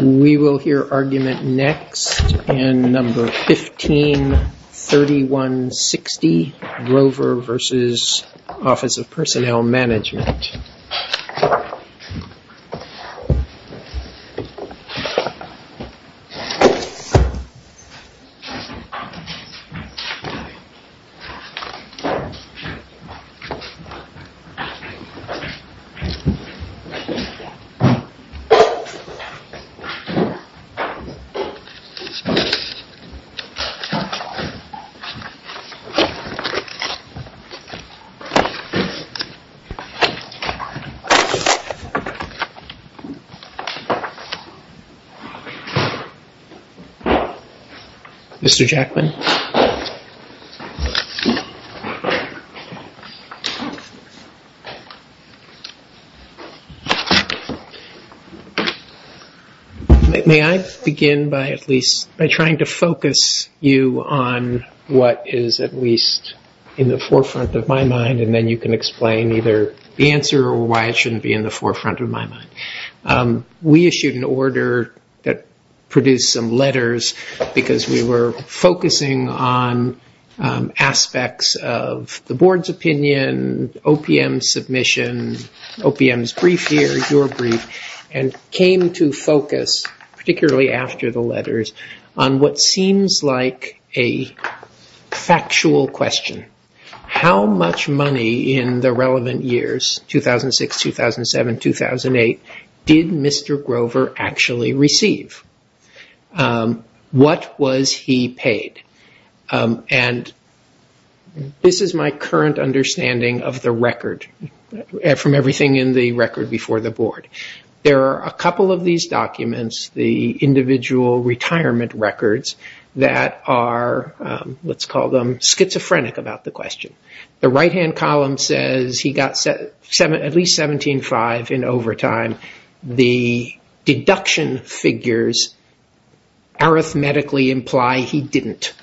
We will hear argument next in No. 153160, Rover v. Office of Personnel Management. Mr. Jackman? May I begin by at least by trying to focus you on what is at least in the forefront of my mind and then you can explain either the answer or why it shouldn't be in the forefront of my mind. We issued an order that produced some letters because we were focusing on aspects of the board's opinion, OPM's submission, OPM's brief here, your brief, and came to focus, particularly after the letters, on what seems like a factual question. How much money in the relevant years, 2006, 2007, 2008, did Mr. Grover actually receive? What was he paid? And this is my current understanding of the record from everything in the record before the board. There are a couple of these documents, the individual retirement records, that are, let's call them, schizophrenic about the question. The right-hand column says he got at least $17,500 in overtime. The deduction figures arithmetically imply he didn't.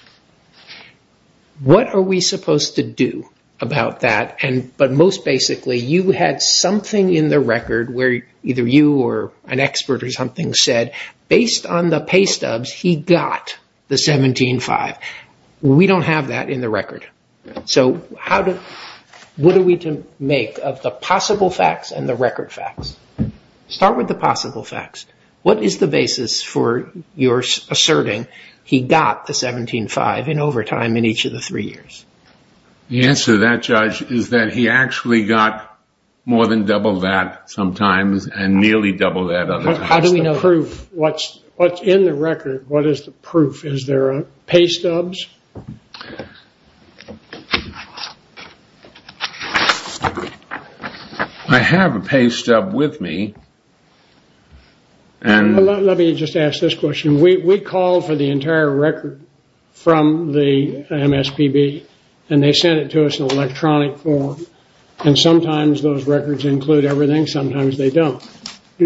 What are we supposed to do about that? But most basically, you had something in the record where either you or an expert or something said, based on the pay stubs, he got the $17,500. We don't have that in the record. So what are we to make of the possible facts and the record facts? Start with the possible facts. What is the basis for your asserting he got the $17,500 in overtime in each of the three years? The answer to that, Judge, is that he actually got more than double that sometimes and nearly double that. How do we know? What's in the record? What is the proof? Is there pay stubs? I have a pay stub with me. Let me just ask this question. We called for the entire record from the MSPB, and they sent it to us in electronic form, and sometimes those records include everything, sometimes they don't. Were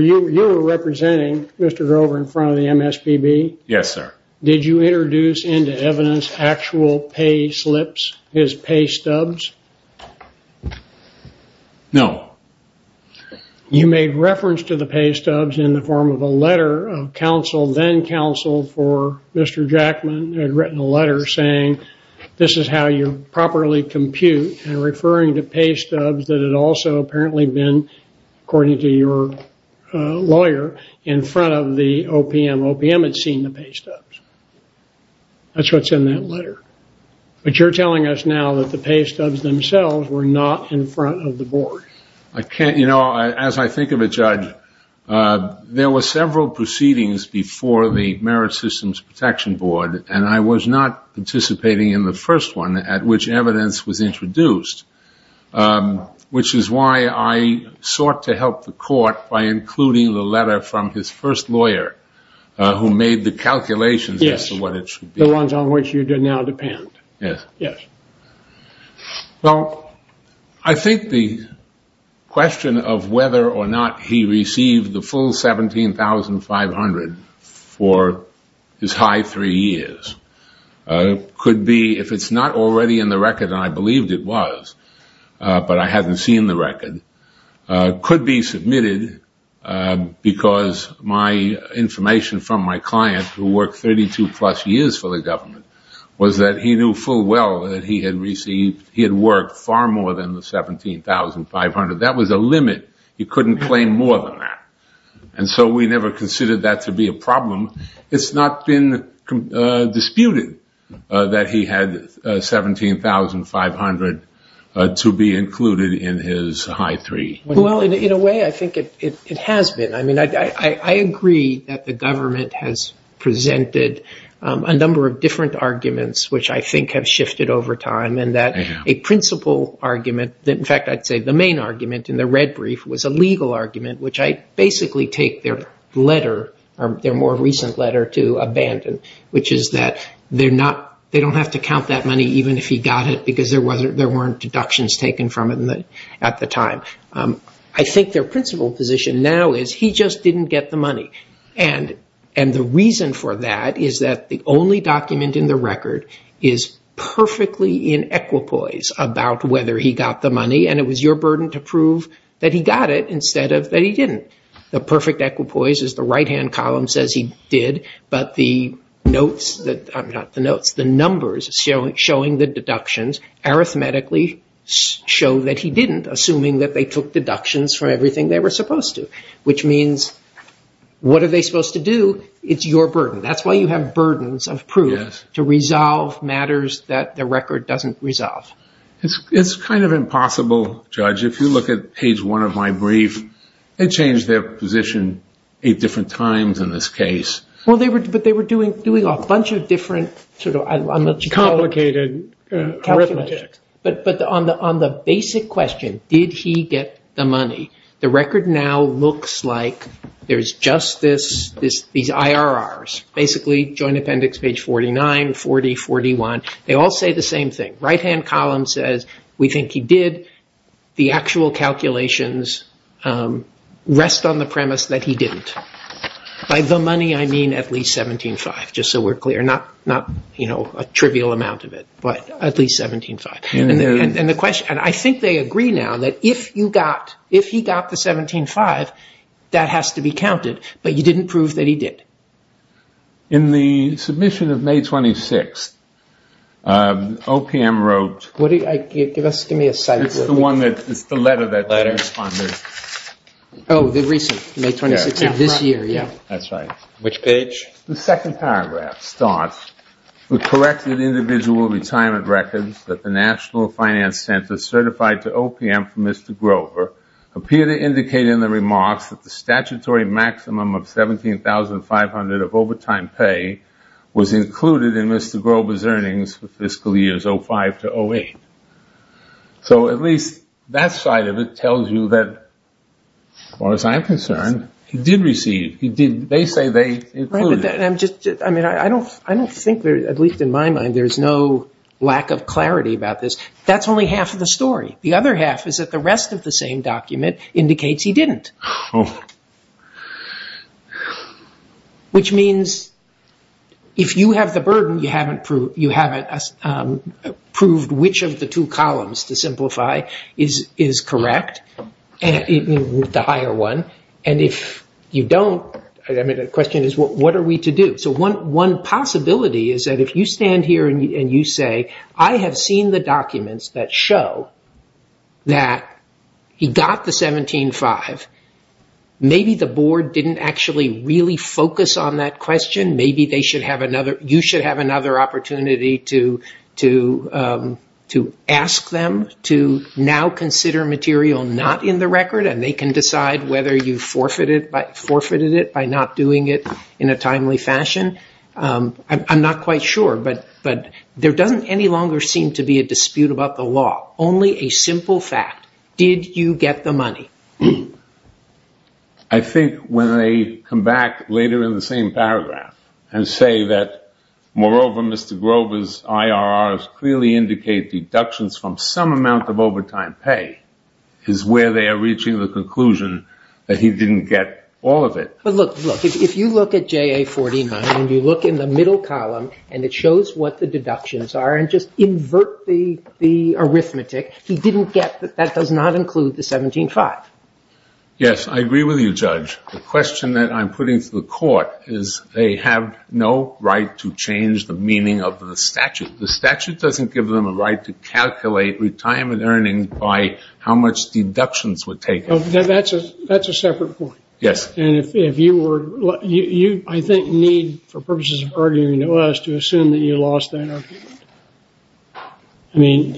you representing Mr. Grover in front of the MSPB? Yes, sir. Did you introduce into evidence actual pay slips, his pay stubs? No. You made reference to the pay stubs in the form of a letter of counsel, then counsel for Mr. Jackman had written a letter saying this is how you properly compute and referring to pay stubs that had also apparently been, according to your lawyer, in front of the OPM. OPM had seen the pay stubs. That's what's in that letter. But you're telling us now that the pay stubs themselves were not in front of the board. As I think of it, Judge, there were several proceedings before the Merit Systems Protection Board, and I was not participating in the first one at which evidence was introduced, which is why I sought to help the court by including the letter from his first lawyer who made the calculations as to what it should be. Yes, the ones on which you now depend. Yes. Yes. Well, I think the question of whether or not he received the full $17,500 for his high three years could be, if it's not already in the record, and I believed it was, but I hadn't seen the record, could be submitted because my information from my client, who worked 32-plus years for the government, was that he knew full well that he had received, he had worked far more than the $17,500. That was a limit. He couldn't claim more than that. And so we never considered that to be a problem. It's not been disputed that he had $17,500 to be included in his high three. Well, in a way, I think it has been. I agree that the government has presented a number of different arguments, which I think have shifted over time, and that a principal argument, in fact, I'd say the main argument in the red brief was a legal argument, which I basically take their letter, their more recent letter to abandon, which is that they don't have to count that money even if he got it because there weren't deductions taken from it at the time. I think their principal position now is he just didn't get the money. And the reason for that is that the only document in the record is perfectly in equipoise about whether he got the money, and it was your burden to prove that he got it instead of that he didn't. The perfect equipoise is the right-hand column says he did, but the notes, not the notes, the numbers showing the deductions arithmetically show that he didn't, assuming that they took deductions from everything they were supposed to, which means what are they supposed to do? It's your burden. That's why you have burdens of proof to resolve matters that the record doesn't resolve. It's kind of impossible, Judge. If you look at page one of my brief, they changed their position eight different times in this case. Well, but they were doing a bunch of different sort of complicated arithmetic. But on the basic question, did he get the money, the record now looks like there's just these IRRs, basically joint appendix page 49, 40, 41. They all say the same thing. Right-hand column says we think he did. The actual calculations rest on the premise that he didn't. By the money, I mean at least 17.5, just so we're clear, not a trivial amount of it, but at least 17.5. And I think they agree now that if he got the 17.5, that has to be counted, but you didn't prove that he did. In the submission of May 26th, OPM wrote the one that's the letter that they responded. Oh, the recent, May 26th of this year, yeah. That's right. Which page? The second paragraph starts, We collected individual retirement records that the National Finance Center certified to OPM from Mr. Grover appear to indicate in the remarks that the statutory maximum of $17,500 of overtime pay was included in Mr. Grover's earnings for fiscal years 05 to 08. So at least that side of it tells you that, as far as I'm concerned, he did receive. They say they included. I don't think, at least in my mind, there's no lack of clarity about this. That's only half of the story. The other half is that the rest of the same document indicates he didn't. Which means if you have the burden, you haven't proved which of the two columns to simplify is correct, the higher one, and if you don't, the question is what are we to do? One possibility is that if you stand here and you say, I have seen the documents that show that he got the $17,500, maybe the board didn't actually really focus on that question. Maybe you should have another opportunity to ask them to now consider material not in the record, and they can decide whether you forfeited it by not doing it in a timely fashion. I'm not quite sure, but there doesn't any longer seem to be a dispute about the law, only a simple fact. I think when they come back later in the same paragraph and say that, moreover, Mr. Grover's IRRs clearly indicate deductions from some amount of overtime pay is where they are reaching the conclusion that he didn't get all of it. But look, if you look at JA 49 and you look in the middle column and it shows what the deductions are and just invert the arithmetic, he didn't get that that does not include the $17,500. Yes, I agree with you, Judge. The question that I'm putting to the court is they have no right to change the meaning of the statute. The statute doesn't give them a right to calculate retirement earnings by how much deductions were taken. That's a separate point. Yes. You, I think, need, for purposes of arguing to us, to assume that you lost that argument. I mean,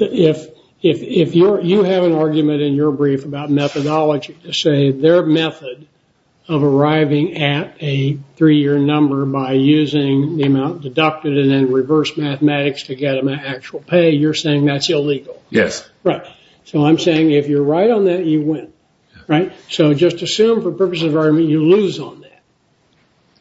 if you have an argument in your brief about methodology to say their method of arriving at a three-year number by using the amount deducted and then reverse mathematics to get them an actual pay, you're saying that's illegal. Yes. Right. So I'm saying if you're right on that, you win. Right. So just assume, for purposes of argument, you lose on that.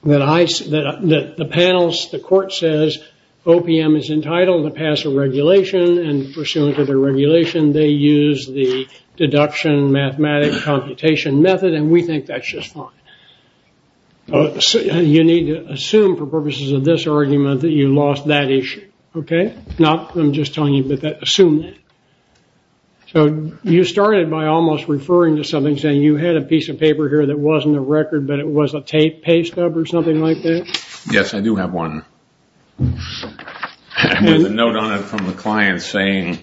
That the panels, the court says OPM is entitled to pass a regulation and pursuant to the regulation, they use the deduction mathematic computation method and we think that's just fine. You need to assume, for purposes of this argument, that you lost that issue. Okay. Not, I'm just telling you, but assume that. So you started by almost referring to something, saying you had a piece of paper here that wasn't a record, but it was a tape, pay stub or something like that? Yes, I do have one. With a note on it from a client saying,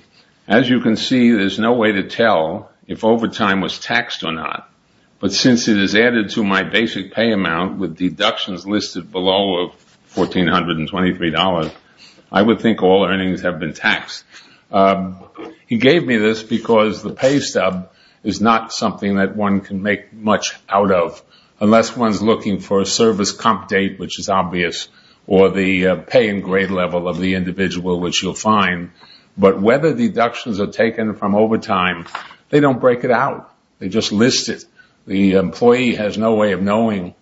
as you can see, there's no way to tell if overtime was taxed or not. But since it is added to my basic pay amount with deductions listed below $1,423, I would think all earnings have been taxed. He gave me this because the pay stub is not something that one can make much out of. Unless one's looking for a service comp date, which is obvious, or the pay and grade level of the individual, which you'll find. But whether deductions are taken from overtime, they don't break it out. They just list it. The employee has no way of knowing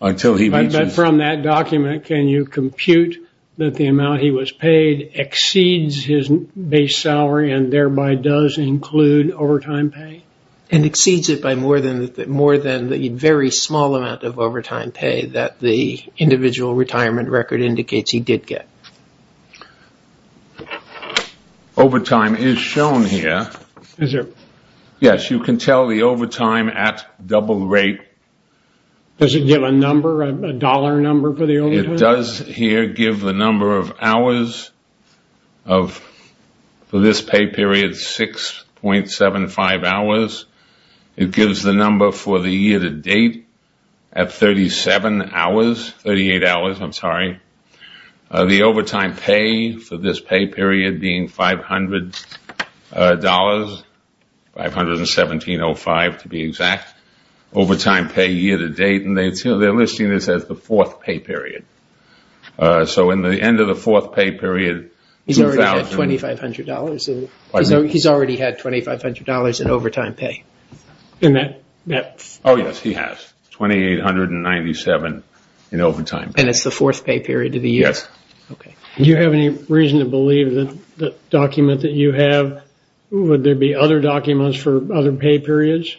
until he reaches... Can you compute that the amount he was paid exceeds his base salary and thereby does include overtime pay? And exceeds it by more than the very small amount of overtime pay that the individual retirement record indicates he did get. Overtime is shown here. Is it? Yes, you can tell the overtime at double rate. Does it give a number, a dollar number for the overtime? It does here give the number of hours for this pay period, 6.75 hours. It gives the number for the year to date at 37 hours, 38 hours, I'm sorry. The overtime pay for this pay period being $500, 517.05 to be exact. Overtime pay year to date, and they're listing this as the fourth pay period. So in the end of the fourth pay period... He's already had $2,500 in overtime pay. Oh yes, he has. $2,897 in overtime pay. And it's the fourth pay period of the year? Yes. Do you have any reason to believe that the document that you have, would there be other documents for other pay periods?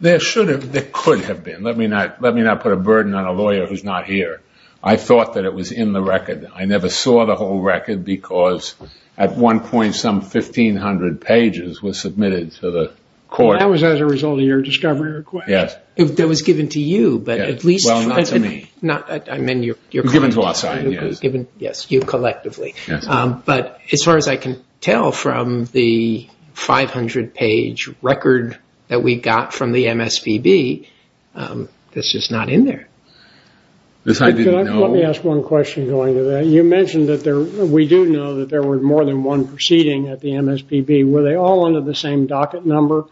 There should have, there could have been. Let me not put a burden on a lawyer who's not here. I thought that it was in the record. I never saw the whole record because at one point some 1,500 pages were submitted to the court. That was as a result of your discovery request? Yes. That was given to you, but at least... Well, not to me. I meant your client. Given to our side, yes. Yes, you collectively. But as far as I can tell from the 500 page record that we got from the MSPB, that's just not in there. Let me ask one question going to that. You mentioned that we do know that there were more than one proceeding at the MSPB. Were they all under the same docket number?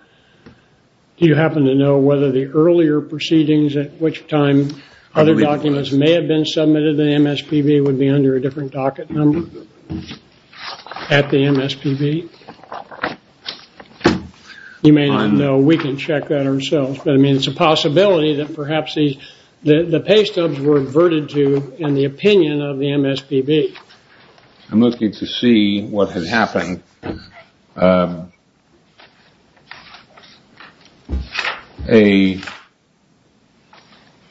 Do you happen to know whether the earlier proceedings at which time other documents may have been submitted to the MSPB would be under a different docket number at the MSPB? You may not know. We can check that ourselves. But, I mean, it's a possibility that perhaps the pay stubs were inverted to in the opinion of the MSPB. I'm looking to see what had happened.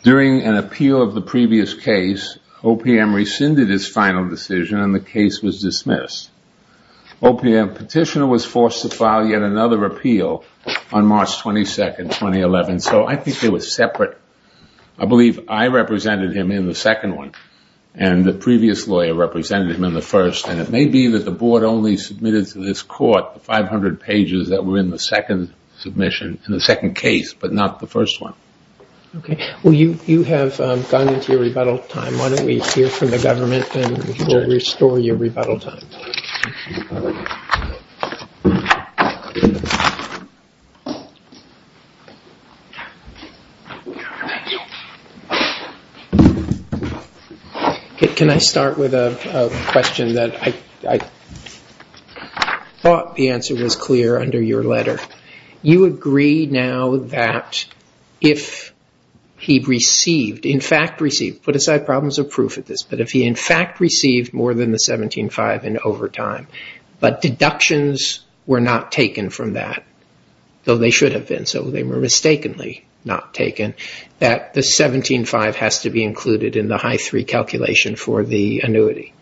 During an appeal of the previous case, OPM rescinded his final decision and the case was dismissed. OPM petitioner was forced to file yet another appeal on March 22, 2011. So I think it was separate. I believe I represented him in the second one and the previous lawyer represented him in the first. And it may be that the board only submitted to this court the 500 pages that were in the second submission, in the second case, but not the first one. Okay. Well, you have gone into your rebuttal time. Why don't we hear from the government and we'll restore your rebuttal time. Thank you. Can I start with a question that I thought the answer was clear under your letter? You agree now that if he received, in fact received, put aside problems of proof at this, but if he, in fact, received more than the 17-5 in overtime, but deductions were not taken from that, though they should have been, so they were mistakenly not taken, that the 17-5 has to be included in the HIE-3 calculation for the annuity.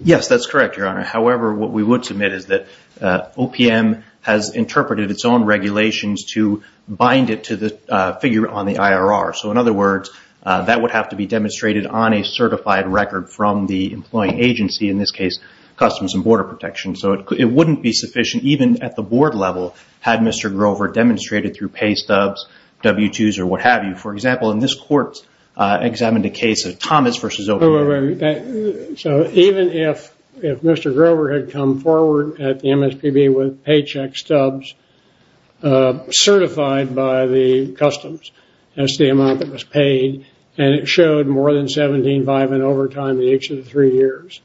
Yes, that's correct, Your Honor. However, what we would submit is that OPM has interpreted its own regulations to bind it to the figure on the IRR. So, in other words, that would have to be demonstrated on a certified record from the employing agency, in this case, Customs and Border Protection. So it wouldn't be sufficient even at the board level had Mr. Grover demonstrated through pay stubs, W-2s, or what have you. For example, in this court examined a case of Thomas versus OPM. So even if Mr. Grover had come forward at the MSPB with paycheck stubs certified by the Customs, that's the amount that was paid, and it showed more than 17-5 in overtime in each of the three years,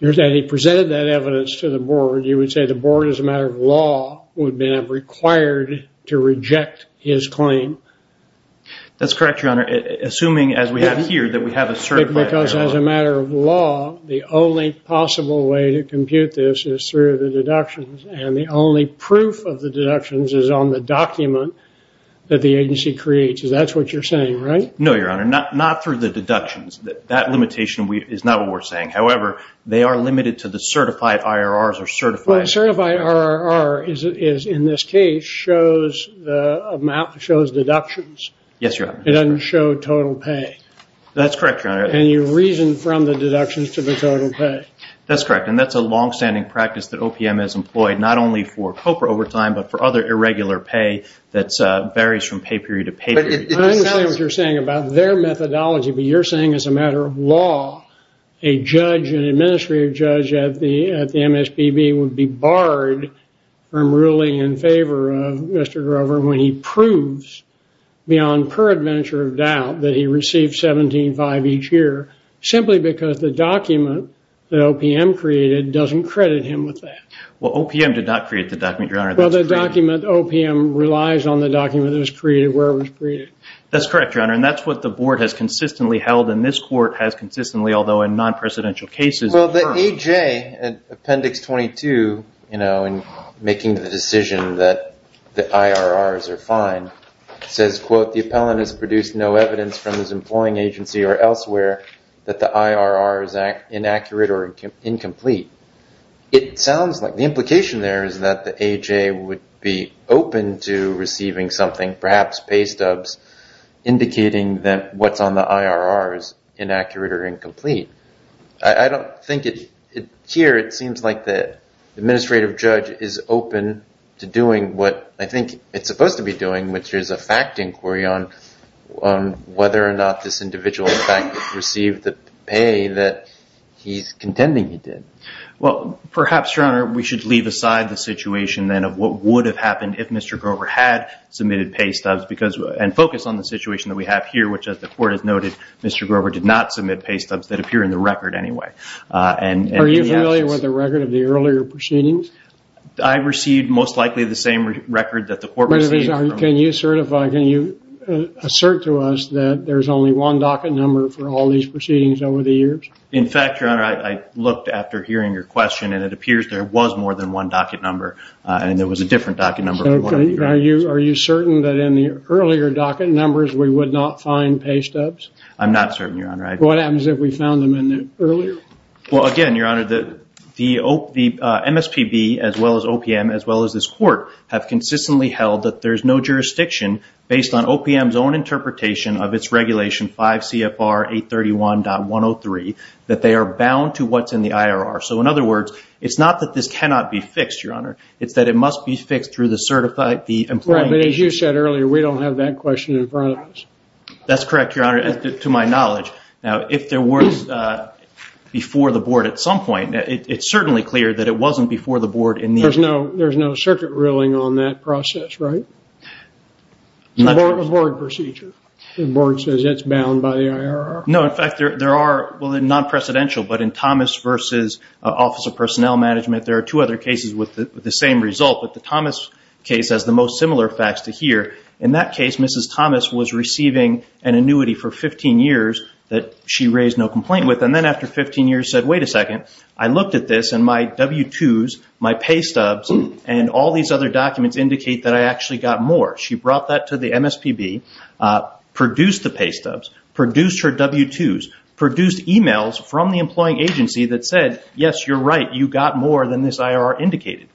and he presented that evidence to the board, you would say the board, as a matter of law, would then have required to reject his claim. That's correct, Your Honor, assuming, as we have here, that we have a certified record. Correct, because as a matter of law, the only possible way to compute this is through the deductions, and the only proof of the deductions is on the document that the agency creates. That's what you're saying, right? No, Your Honor, not through the deductions. That limitation is not what we're saying. However, they are limited to the certified IRRs or certified IRRs. Well, a certified IRR, in this case, shows deductions. Yes, Your Honor. It doesn't show total pay. That's correct, Your Honor. And you reason from the deductions to the total pay. That's correct, and that's a long-standing practice that OPM has employed, not only for COPA overtime, but for other irregular pay that varies from pay period to pay period. I understand what you're saying about their methodology, but you're saying, as a matter of law, a judge, an administrative judge at the MSPB would be barred from ruling in favor of Mr. Grover when he proves, beyond peradventure of doubt, that he receives $17,500 each year, simply because the document that OPM created doesn't credit him with that. Well, OPM did not create the document, Your Honor. Well, the document, OPM, relies on the document that was created where it was created. That's correct, Your Honor, and that's what the board has consistently held, and this court has consistently, although in non-presidential cases. Well, the AJ, Appendix 22, in making the decision that the IRRs are fine, says, quote, the appellant has produced no evidence from his employing agency or elsewhere that the IRR is inaccurate or incomplete. It sounds like the implication there is that the AJ would be open to receiving something, perhaps pay stubs, indicating that what's on the IRR is inaccurate or incomplete. I don't think it's here. It seems like the administrative judge is open to doing what I think it's supposed to be doing, which is a fact inquiry on whether or not this individual, in fact, received the pay that he's contending he did. Well, perhaps, Your Honor, we should leave aside the situation, then, of what would have happened if Mr. Grover had submitted pay stubs and focus on the situation that we have here, which, as the court has noted, Mr. Grover did not submit pay stubs that appear in the record anyway. Are you familiar with the record of the earlier proceedings? I received, most likely, the same record that the court received. Can you assert to us that there's only one docket number for all these proceedings over the years? In fact, Your Honor, I looked after hearing your question, and it appears there was more than one docket number, Are you certain that in the earlier docket numbers we would not find pay stubs? I'm not certain, Your Honor. What happens if we found them earlier? Well, again, Your Honor, the MSPB, as well as OPM, as well as this court, have consistently held that there's no jurisdiction, based on OPM's own interpretation of its regulation, 5 CFR 831.103, that they are bound to what's in the IRR. So, in other words, it's not that this cannot be fixed, Your Honor. It's that it must be fixed through the employee... Right, but as you said earlier, we don't have that question in front of us. That's correct, Your Honor, to my knowledge. Now, if there was before the board at some point, it's certainly clear that it wasn't before the board in the... There's no circuit ruling on that process, right? It's a board procedure. The board says it's bound by the IRR. No, in fact, there are, well, non-presidential, but in Thomas v. Office of Personnel Management, there are two other cases with the same result, but the Thomas case has the most similar facts to here. In that case, Mrs. Thomas was receiving an annuity for 15 years that she raised no complaint with, and then after 15 years said, wait a second, I looked at this, and my W-2s, my pay stubs, and all these other documents indicate that I actually got more. She brought that to the MSPB, produced the pay stubs, produced her W-2s, produced emails from the employing agency that said, yes, you're right, you got more than this IRR indicated.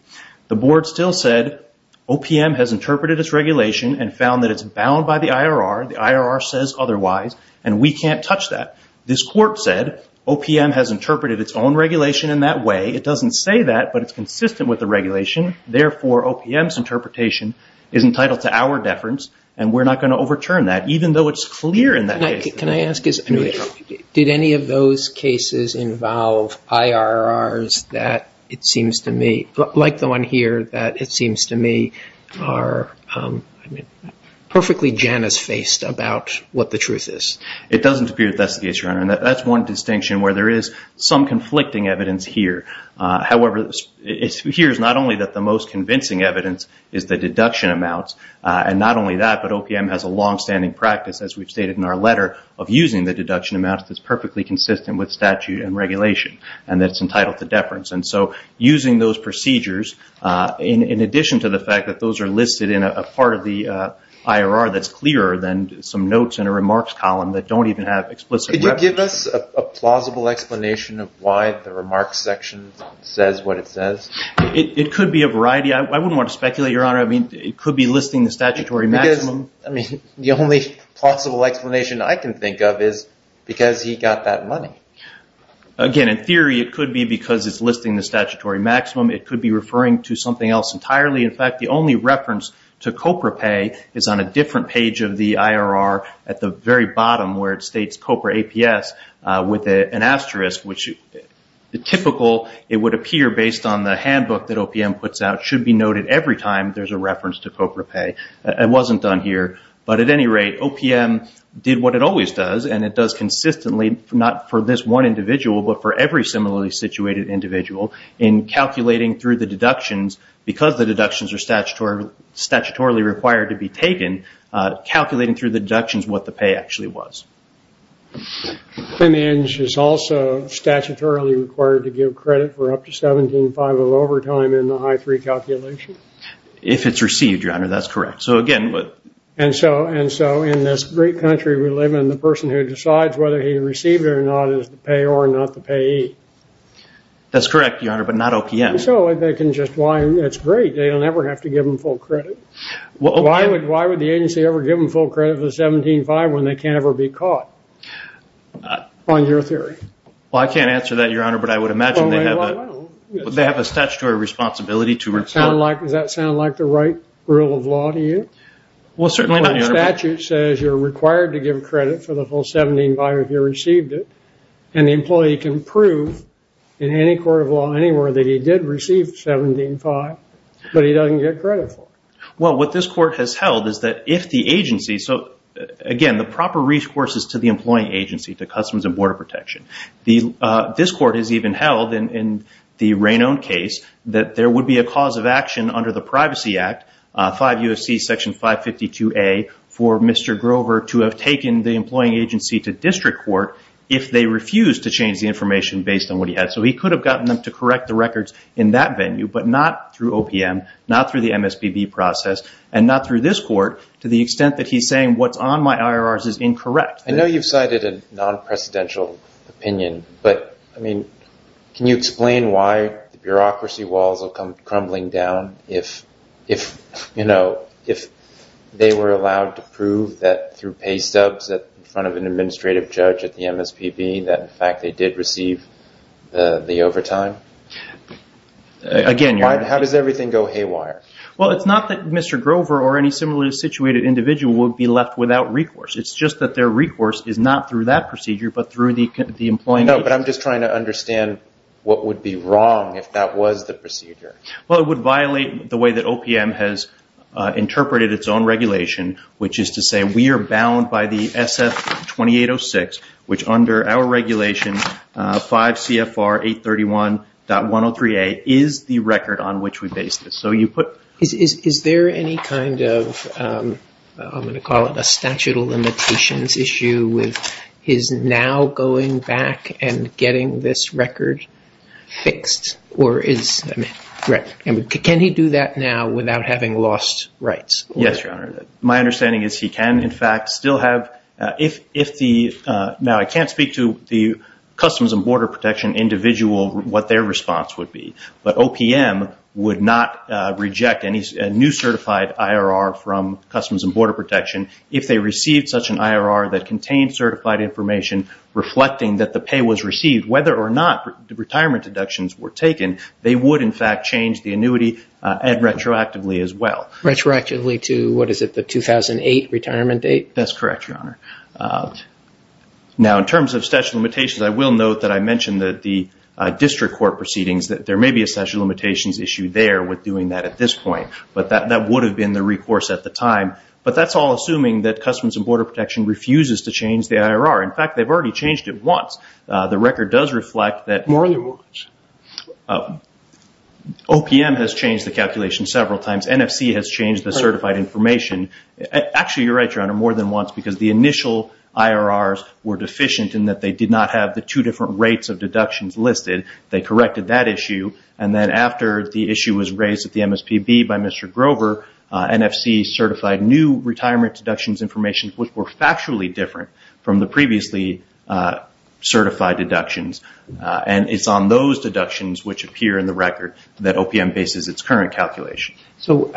The board still said OPM has interpreted its regulation and found that it's bound by the IRR. The IRR says otherwise, and we can't touch that. This court said OPM has interpreted its own regulation in that way. It doesn't say that, but it's consistent with the regulation. Therefore, OPM's interpretation is entitled to our deference, and we're not going to overturn that, even though it's clear in that case. Can I ask, did any of those cases involve IRRs that it seems to me, like the one here, that it seems to me are perfectly Janice-faced about what the truth is? It doesn't appear that that's the case, Your Honor, and that's one distinction where there is some conflicting evidence here. However, it appears not only that the most convincing evidence is the deduction amounts, and not only that, but OPM has a long-standing practice, as we've stated in our letter, of using the deduction amounts that's perfectly consistent with statute and regulation, and that it's entitled to deference. Using those procedures, in addition to the fact that those are listed in a part of the IRR that's clearer than some notes in a remarks column that don't even have explicit reference. Could you give us a plausible explanation of why the remarks section says what it says? It could be a variety. I wouldn't want to speculate, Your Honor. It could be listing the statutory maximum. The only plausible explanation I can think of is because he got that money. Again, in theory, it could be because it's listing the statutory maximum. It could be referring to something else entirely. In fact, the only reference to COPRA pay is on a different page of the IRR at the very bottom where it states COPRA APS with an asterisk, which the typical it would appear based on the handbook that OPM puts out should be noted every time there's a reference to COPRA pay. It wasn't done here, but at any rate, OPM did what it always does, and it does consistently, not for this one individual, but for every similarly situated individual, in calculating through the deductions, because the deductions are statutorily required to be taken, calculating through the deductions what the pay actually was. And it is also statutorily required to give credit for up to 17.5 of overtime in the I3 calculation. If it's received, Your Honor, that's correct. And so in this great country we live in, the person who decides whether he received it or not is the payor, not the payee. That's correct, Your Honor, but not OPM. So they can just whine. It's great. They don't ever have to give them full credit. Why would the agency ever give them full credit for the 17.5 when they can't ever be caught on your theory? Well, I can't answer that, Your Honor, but I would imagine they have a statutory responsibility to report. Does that sound like the right rule of law to you? Well, certainly not, Your Honor. The statute says you're required to give credit for the full 17.5 if you received it, and the employee can prove in any court of law anywhere that he did receive 17.5, but he doesn't get credit for it. Well, what this court has held is that if the agency – so, again, the proper resources to the employee agency, the Customs and Border Protection. This court has even held in the Raynon case that there would be a cause of action under the Privacy Act, 5 U.S.C. section 552A, for Mr. Grover to have taken the employing agency to district court if they refused to change the information based on what he had. So he could have gotten them to correct the records in that venue, but not through OPM, not through the MSPB process, and not through this court to the extent that he's saying what's on my IRRs is incorrect. I know you've cited a non-precedential opinion, but, I mean, can you explain why the bureaucracy walls will come crumbling down if, you know, if they were allowed to prove that through pay stubs in front of an administrative judge at the MSPB that, in fact, they did receive the overtime? How does everything go haywire? Well, it's not that Mr. Grover or any similarly situated individual would be left without recourse. It's just that their recourse is not through that procedure, but through the employing agency. No, but I'm just trying to understand what would be wrong if that was the procedure. Well, it would violate the way that OPM has interpreted its own regulation, which is to say we are bound by the SF-2806, which under our regulation, 5 CFR 831.103A, is the record on which we base this. Is there any kind of, I'm going to call it a statute of limitations issue with his now going back and getting this record fixed, or is, I mean, can he do that now without having lost rights? Yes, Your Honor. My understanding is he can, in fact, still have, if the, now I can't speak to the Customs and Border Protection individual what their response would be, but OPM would not reject a new certified IRR from Customs and Border Protection if they received such an IRR that contained certified information reflecting that the pay was received. Whether or not retirement deductions were taken, they would, in fact, change the annuity retroactively as well. Retroactively to, what is it, the 2008 retirement date? That's correct, Your Honor. Now, in terms of statute of limitations, I will note that I mentioned that the district court proceedings, that there may be a statute of limitations issue there with doing that at this point, but that would have been the recourse at the time, but that's all assuming that Customs and Border Protection refuses to change the IRR. In fact, they've already changed it once. The record does reflect that OPM has changed the calculation several times. NFC has changed the certified information. Actually, you're right, Your Honor, more than once, because the initial IRRs were deficient in that they did not have the two different rates of deductions listed. They corrected that issue, and then after the issue was raised at the MSPB by Mr. Grover, NFC certified new retirement deductions information, which were factually different from the previously certified deductions, and it's on those deductions which appear in the record that OPM bases its current calculation. So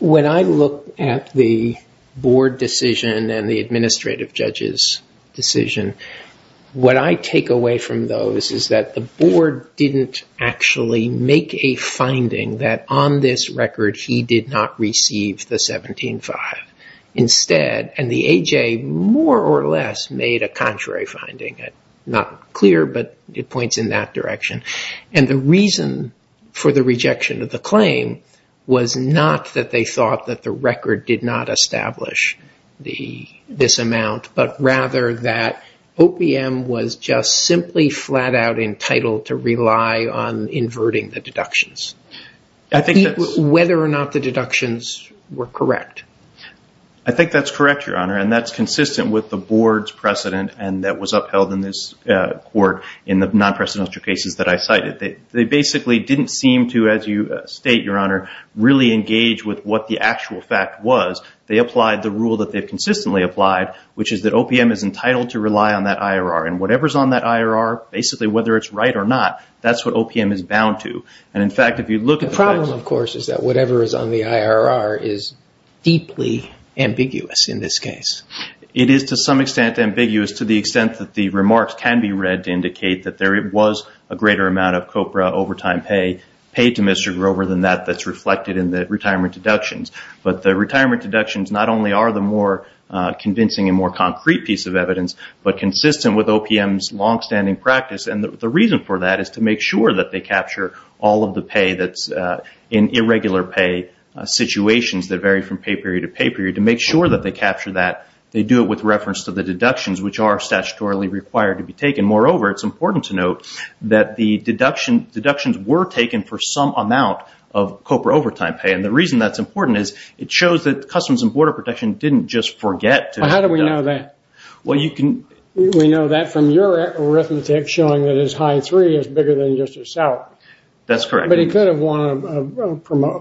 when I look at the board decision and the administrative judge's decision, what I take away from those is that the board didn't actually make a finding that on this record he did not receive the 17-5. Instead, and the A.J. more or less made a contrary finding, not clear, but it points in that direction, and the reason for the rejection of the claim was not that they thought that the record did not establish this amount, but rather that OPM was just simply flat-out entitled to rely on inverting the deductions. Whether or not the deductions were correct. I think that's correct, Your Honor, and that's consistent with the board's precedent and that was upheld in this court in the non-presidential cases that I cited. They basically didn't seem to, as you state, Your Honor, really engage with what the actual fact was. They applied the rule that they've consistently applied, which is that OPM is entitled to rely on that IRR, and whatever's on that IRR, basically whether it's right or not, that's what OPM is bound to. The problem, of course, is that whatever is on the IRR is deeply ambiguous in this case. It is to some extent ambiguous to the extent that the remarks can be read to indicate that there was a greater amount of COPRA overtime pay paid to Mr. Grover than that that's reflected in the retirement deductions, but the retirement deductions not only are the more convincing and more concrete piece of evidence, but consistent with OPM's long-standing practice, and the reason for that is to make sure that they capture all of the pay that's in irregular pay situations that vary from pay period to pay period. To make sure that they capture that, they do it with reference to the deductions, which are statutorily required to be taken. Moreover, it's important to note that the deductions were taken for some amount of COPRA overtime pay, and the reason that's important is it shows that Customs and Border Protection didn't just forget. How do we know that? We know that from your arithmetic showing that his high three is bigger than just his salary. That's correct. But he could have won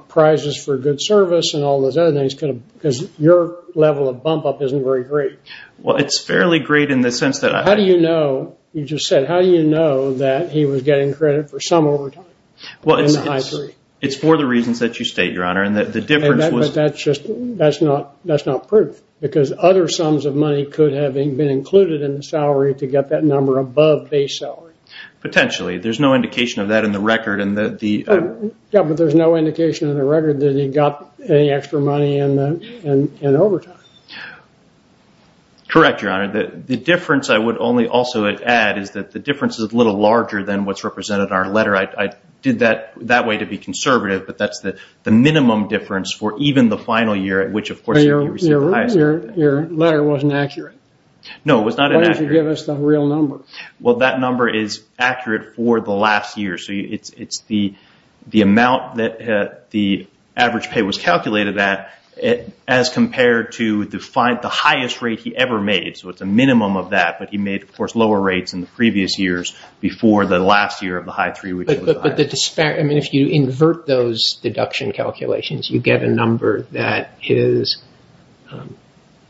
prizes for good service and all those other things, because your level of bump-up isn't very great. Well, it's fairly great in the sense that— How do you know? You just said, how do you know that he was getting credit for some overtime in the high three? Well, it's for the reasons that you state, Your Honor, and the difference was— But that's not proof, because other sums of money could have been included in the salary to get that number above base salary. Potentially. There's no indication of that in the record. Yeah, but there's no indication in the record that he got any extra money in overtime. Correct, Your Honor. The difference I would only also add is that the difference is a little larger than what's represented in our letter. I did that that way to be conservative, but that's the minimum difference for even the final year at which, of course— But your letter wasn't accurate. No, it was not inaccurate. Why don't you give us the real number? Well, that number is accurate for the last year. So it's the amount that the average pay was calculated at as compared to the highest rate he ever made. So it's a minimum of that, but he made, of course, lower rates in the previous years before the last year of the high three. But the disparity—I mean, if you invert those deduction calculations, you get a number that is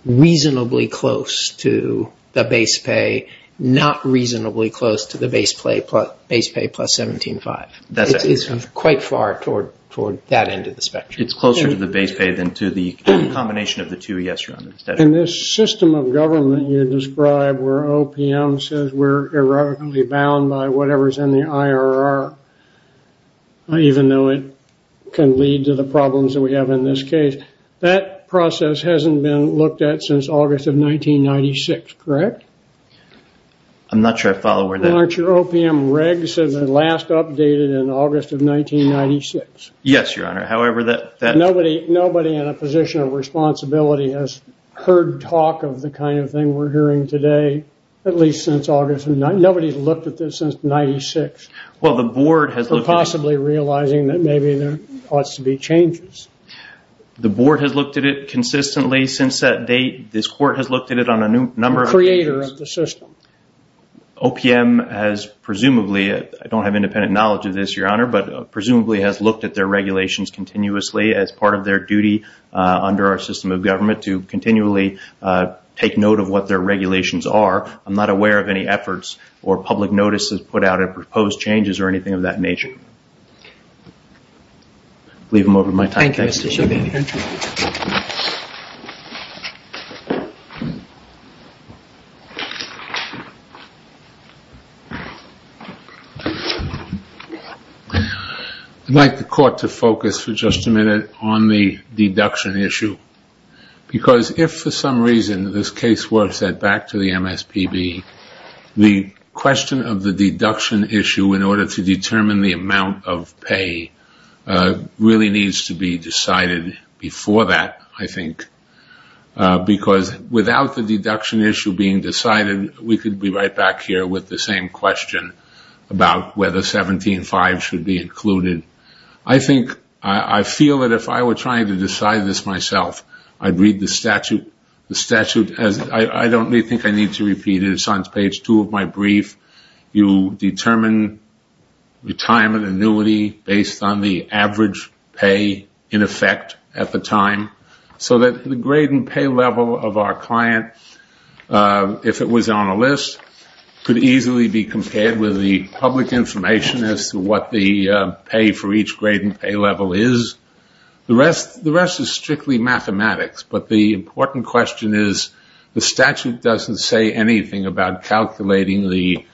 reasonably close to the base pay, not reasonably close to the base pay plus $17,500. It's quite far toward that end of the spectrum. It's closer to the base pay than to the combination of the two, yes, Your Honor. In this system of government you describe where OPM says we're irrevocably bound by whatever's in the IRR, even though it can lead to the problems that we have in this case. That process hasn't been looked at since August of 1996, correct? I'm not sure I follow where that— Aren't your OPM regs the last updated in August of 1996? Yes, Your Honor. However, that— Nobody in a position of responsibility has heard talk of the kind of thing we're hearing today, at least since August. Nobody looked at this since 1996. Well, the board has— For possibly realizing that maybe there ought to be changes. The board has looked at it consistently since that date. This court has looked at it on a number of— The creator of the system. OPM has presumably—I don't have independent knowledge of this, Your Honor, but presumably has looked at their regulations continuously as part of their duty under our system of government to continually take note of what their regulations are. I'm not aware of any efforts or public notices put out of proposed changes or anything of that nature. Leave them over my time. Thank you, Mr. Chauvin. I'd like the court to focus for just a minute on the deduction issue because if for some reason this case were set back to the MSPB, the question of the deduction issue in order to determine the amount of pay really needs to be decided before that, I think, because without the deduction issue being decided, we could be right back here with the same question about whether 17-5 should be included. I feel that if I were trying to decide this myself, I'd read the statute. I don't think I need to repeat it. It's on page two of my brief. You determine retirement annuity based on the average pay in effect at the time so that the grade and pay level of our client, if it was on a list, could easily be compared with the public information as to what the pay for each grade and pay level is. The rest is strictly mathematics, but the important question is the statute doesn't say anything about calculating the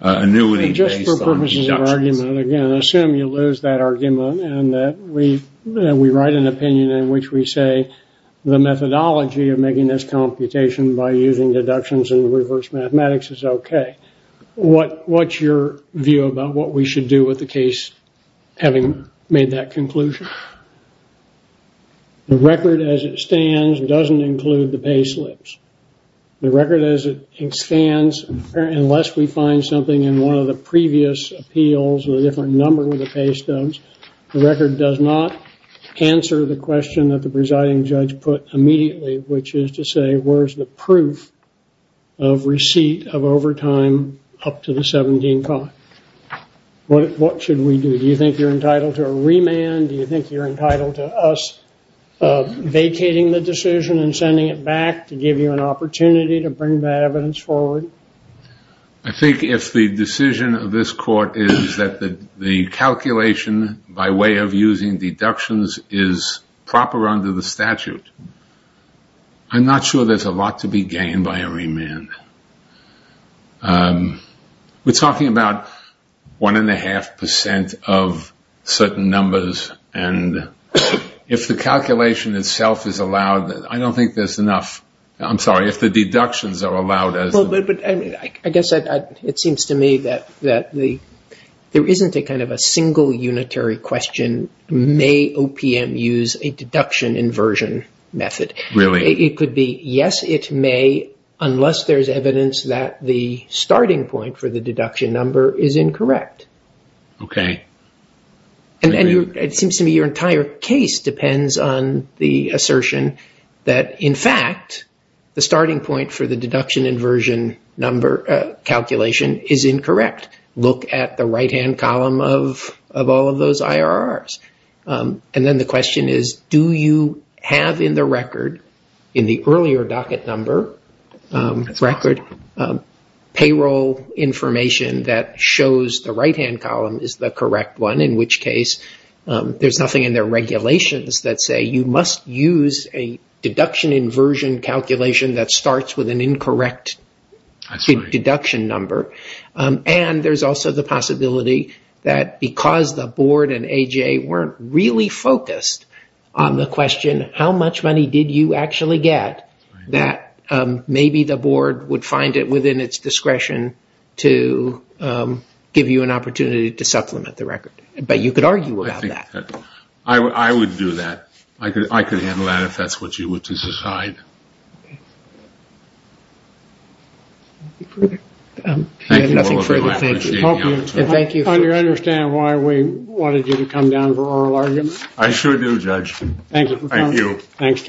annuity based on deductions. Just for purposes of argument, again, assume you lose that argument and that we write an opinion in which we say the methodology of making this computation by using deductions and reverse mathematics is okay. What's your view about what we should do with the case having made that conclusion? The record as it stands doesn't include the pay slips. The record as it stands, unless we find something in one of the previous appeals or a different number of the pay stones, the record does not answer the question that the presiding judge put immediately, which is to say where's the proof of receipt of overtime up to the 17th. What should we do? Do you think you're entitled to a remand? Do you think you're entitled to us vacating the decision and sending it back to give you an opportunity to bring that evidence forward? I think if the decision of this court is that the calculation by way of using deductions is proper under the statute, I'm not sure there's a lot to be gained by a remand. We're talking about one and a half percent of certain numbers, and if the calculation itself is allowed, I don't think there's enough. I'm sorry, if the deductions are allowed. I guess it seems to me that there isn't a kind of a single unitary question, may OPM use a deduction inversion method. Really? It could be yes, it may, unless there's evidence that the starting point for the deduction number is incorrect. Okay. It seems to me your entire case depends on the assertion that, in fact, the starting point for the deduction inversion number calculation is incorrect. Look at the right-hand column of all of those IRRs. And then the question is, do you have in the record, in the earlier docket number record, payroll information that shows the right-hand column is the correct one, in which case there's nothing in their regulations that say you must use a deduction inversion calculation that starts with an incorrect deduction number. And there's also the possibility that because the board and AJA weren't really focused on the question, how much money did you actually get, that maybe the board would find it within its discretion to give you an opportunity to supplement the record. But you could argue about that. I would do that. I could handle that if that's what you would decide. Thank you all very much. Thank you. Do you understand why we wanted you to come down for oral arguments? I sure do, Judge. Thank you. Thank you. Thanks to both parties.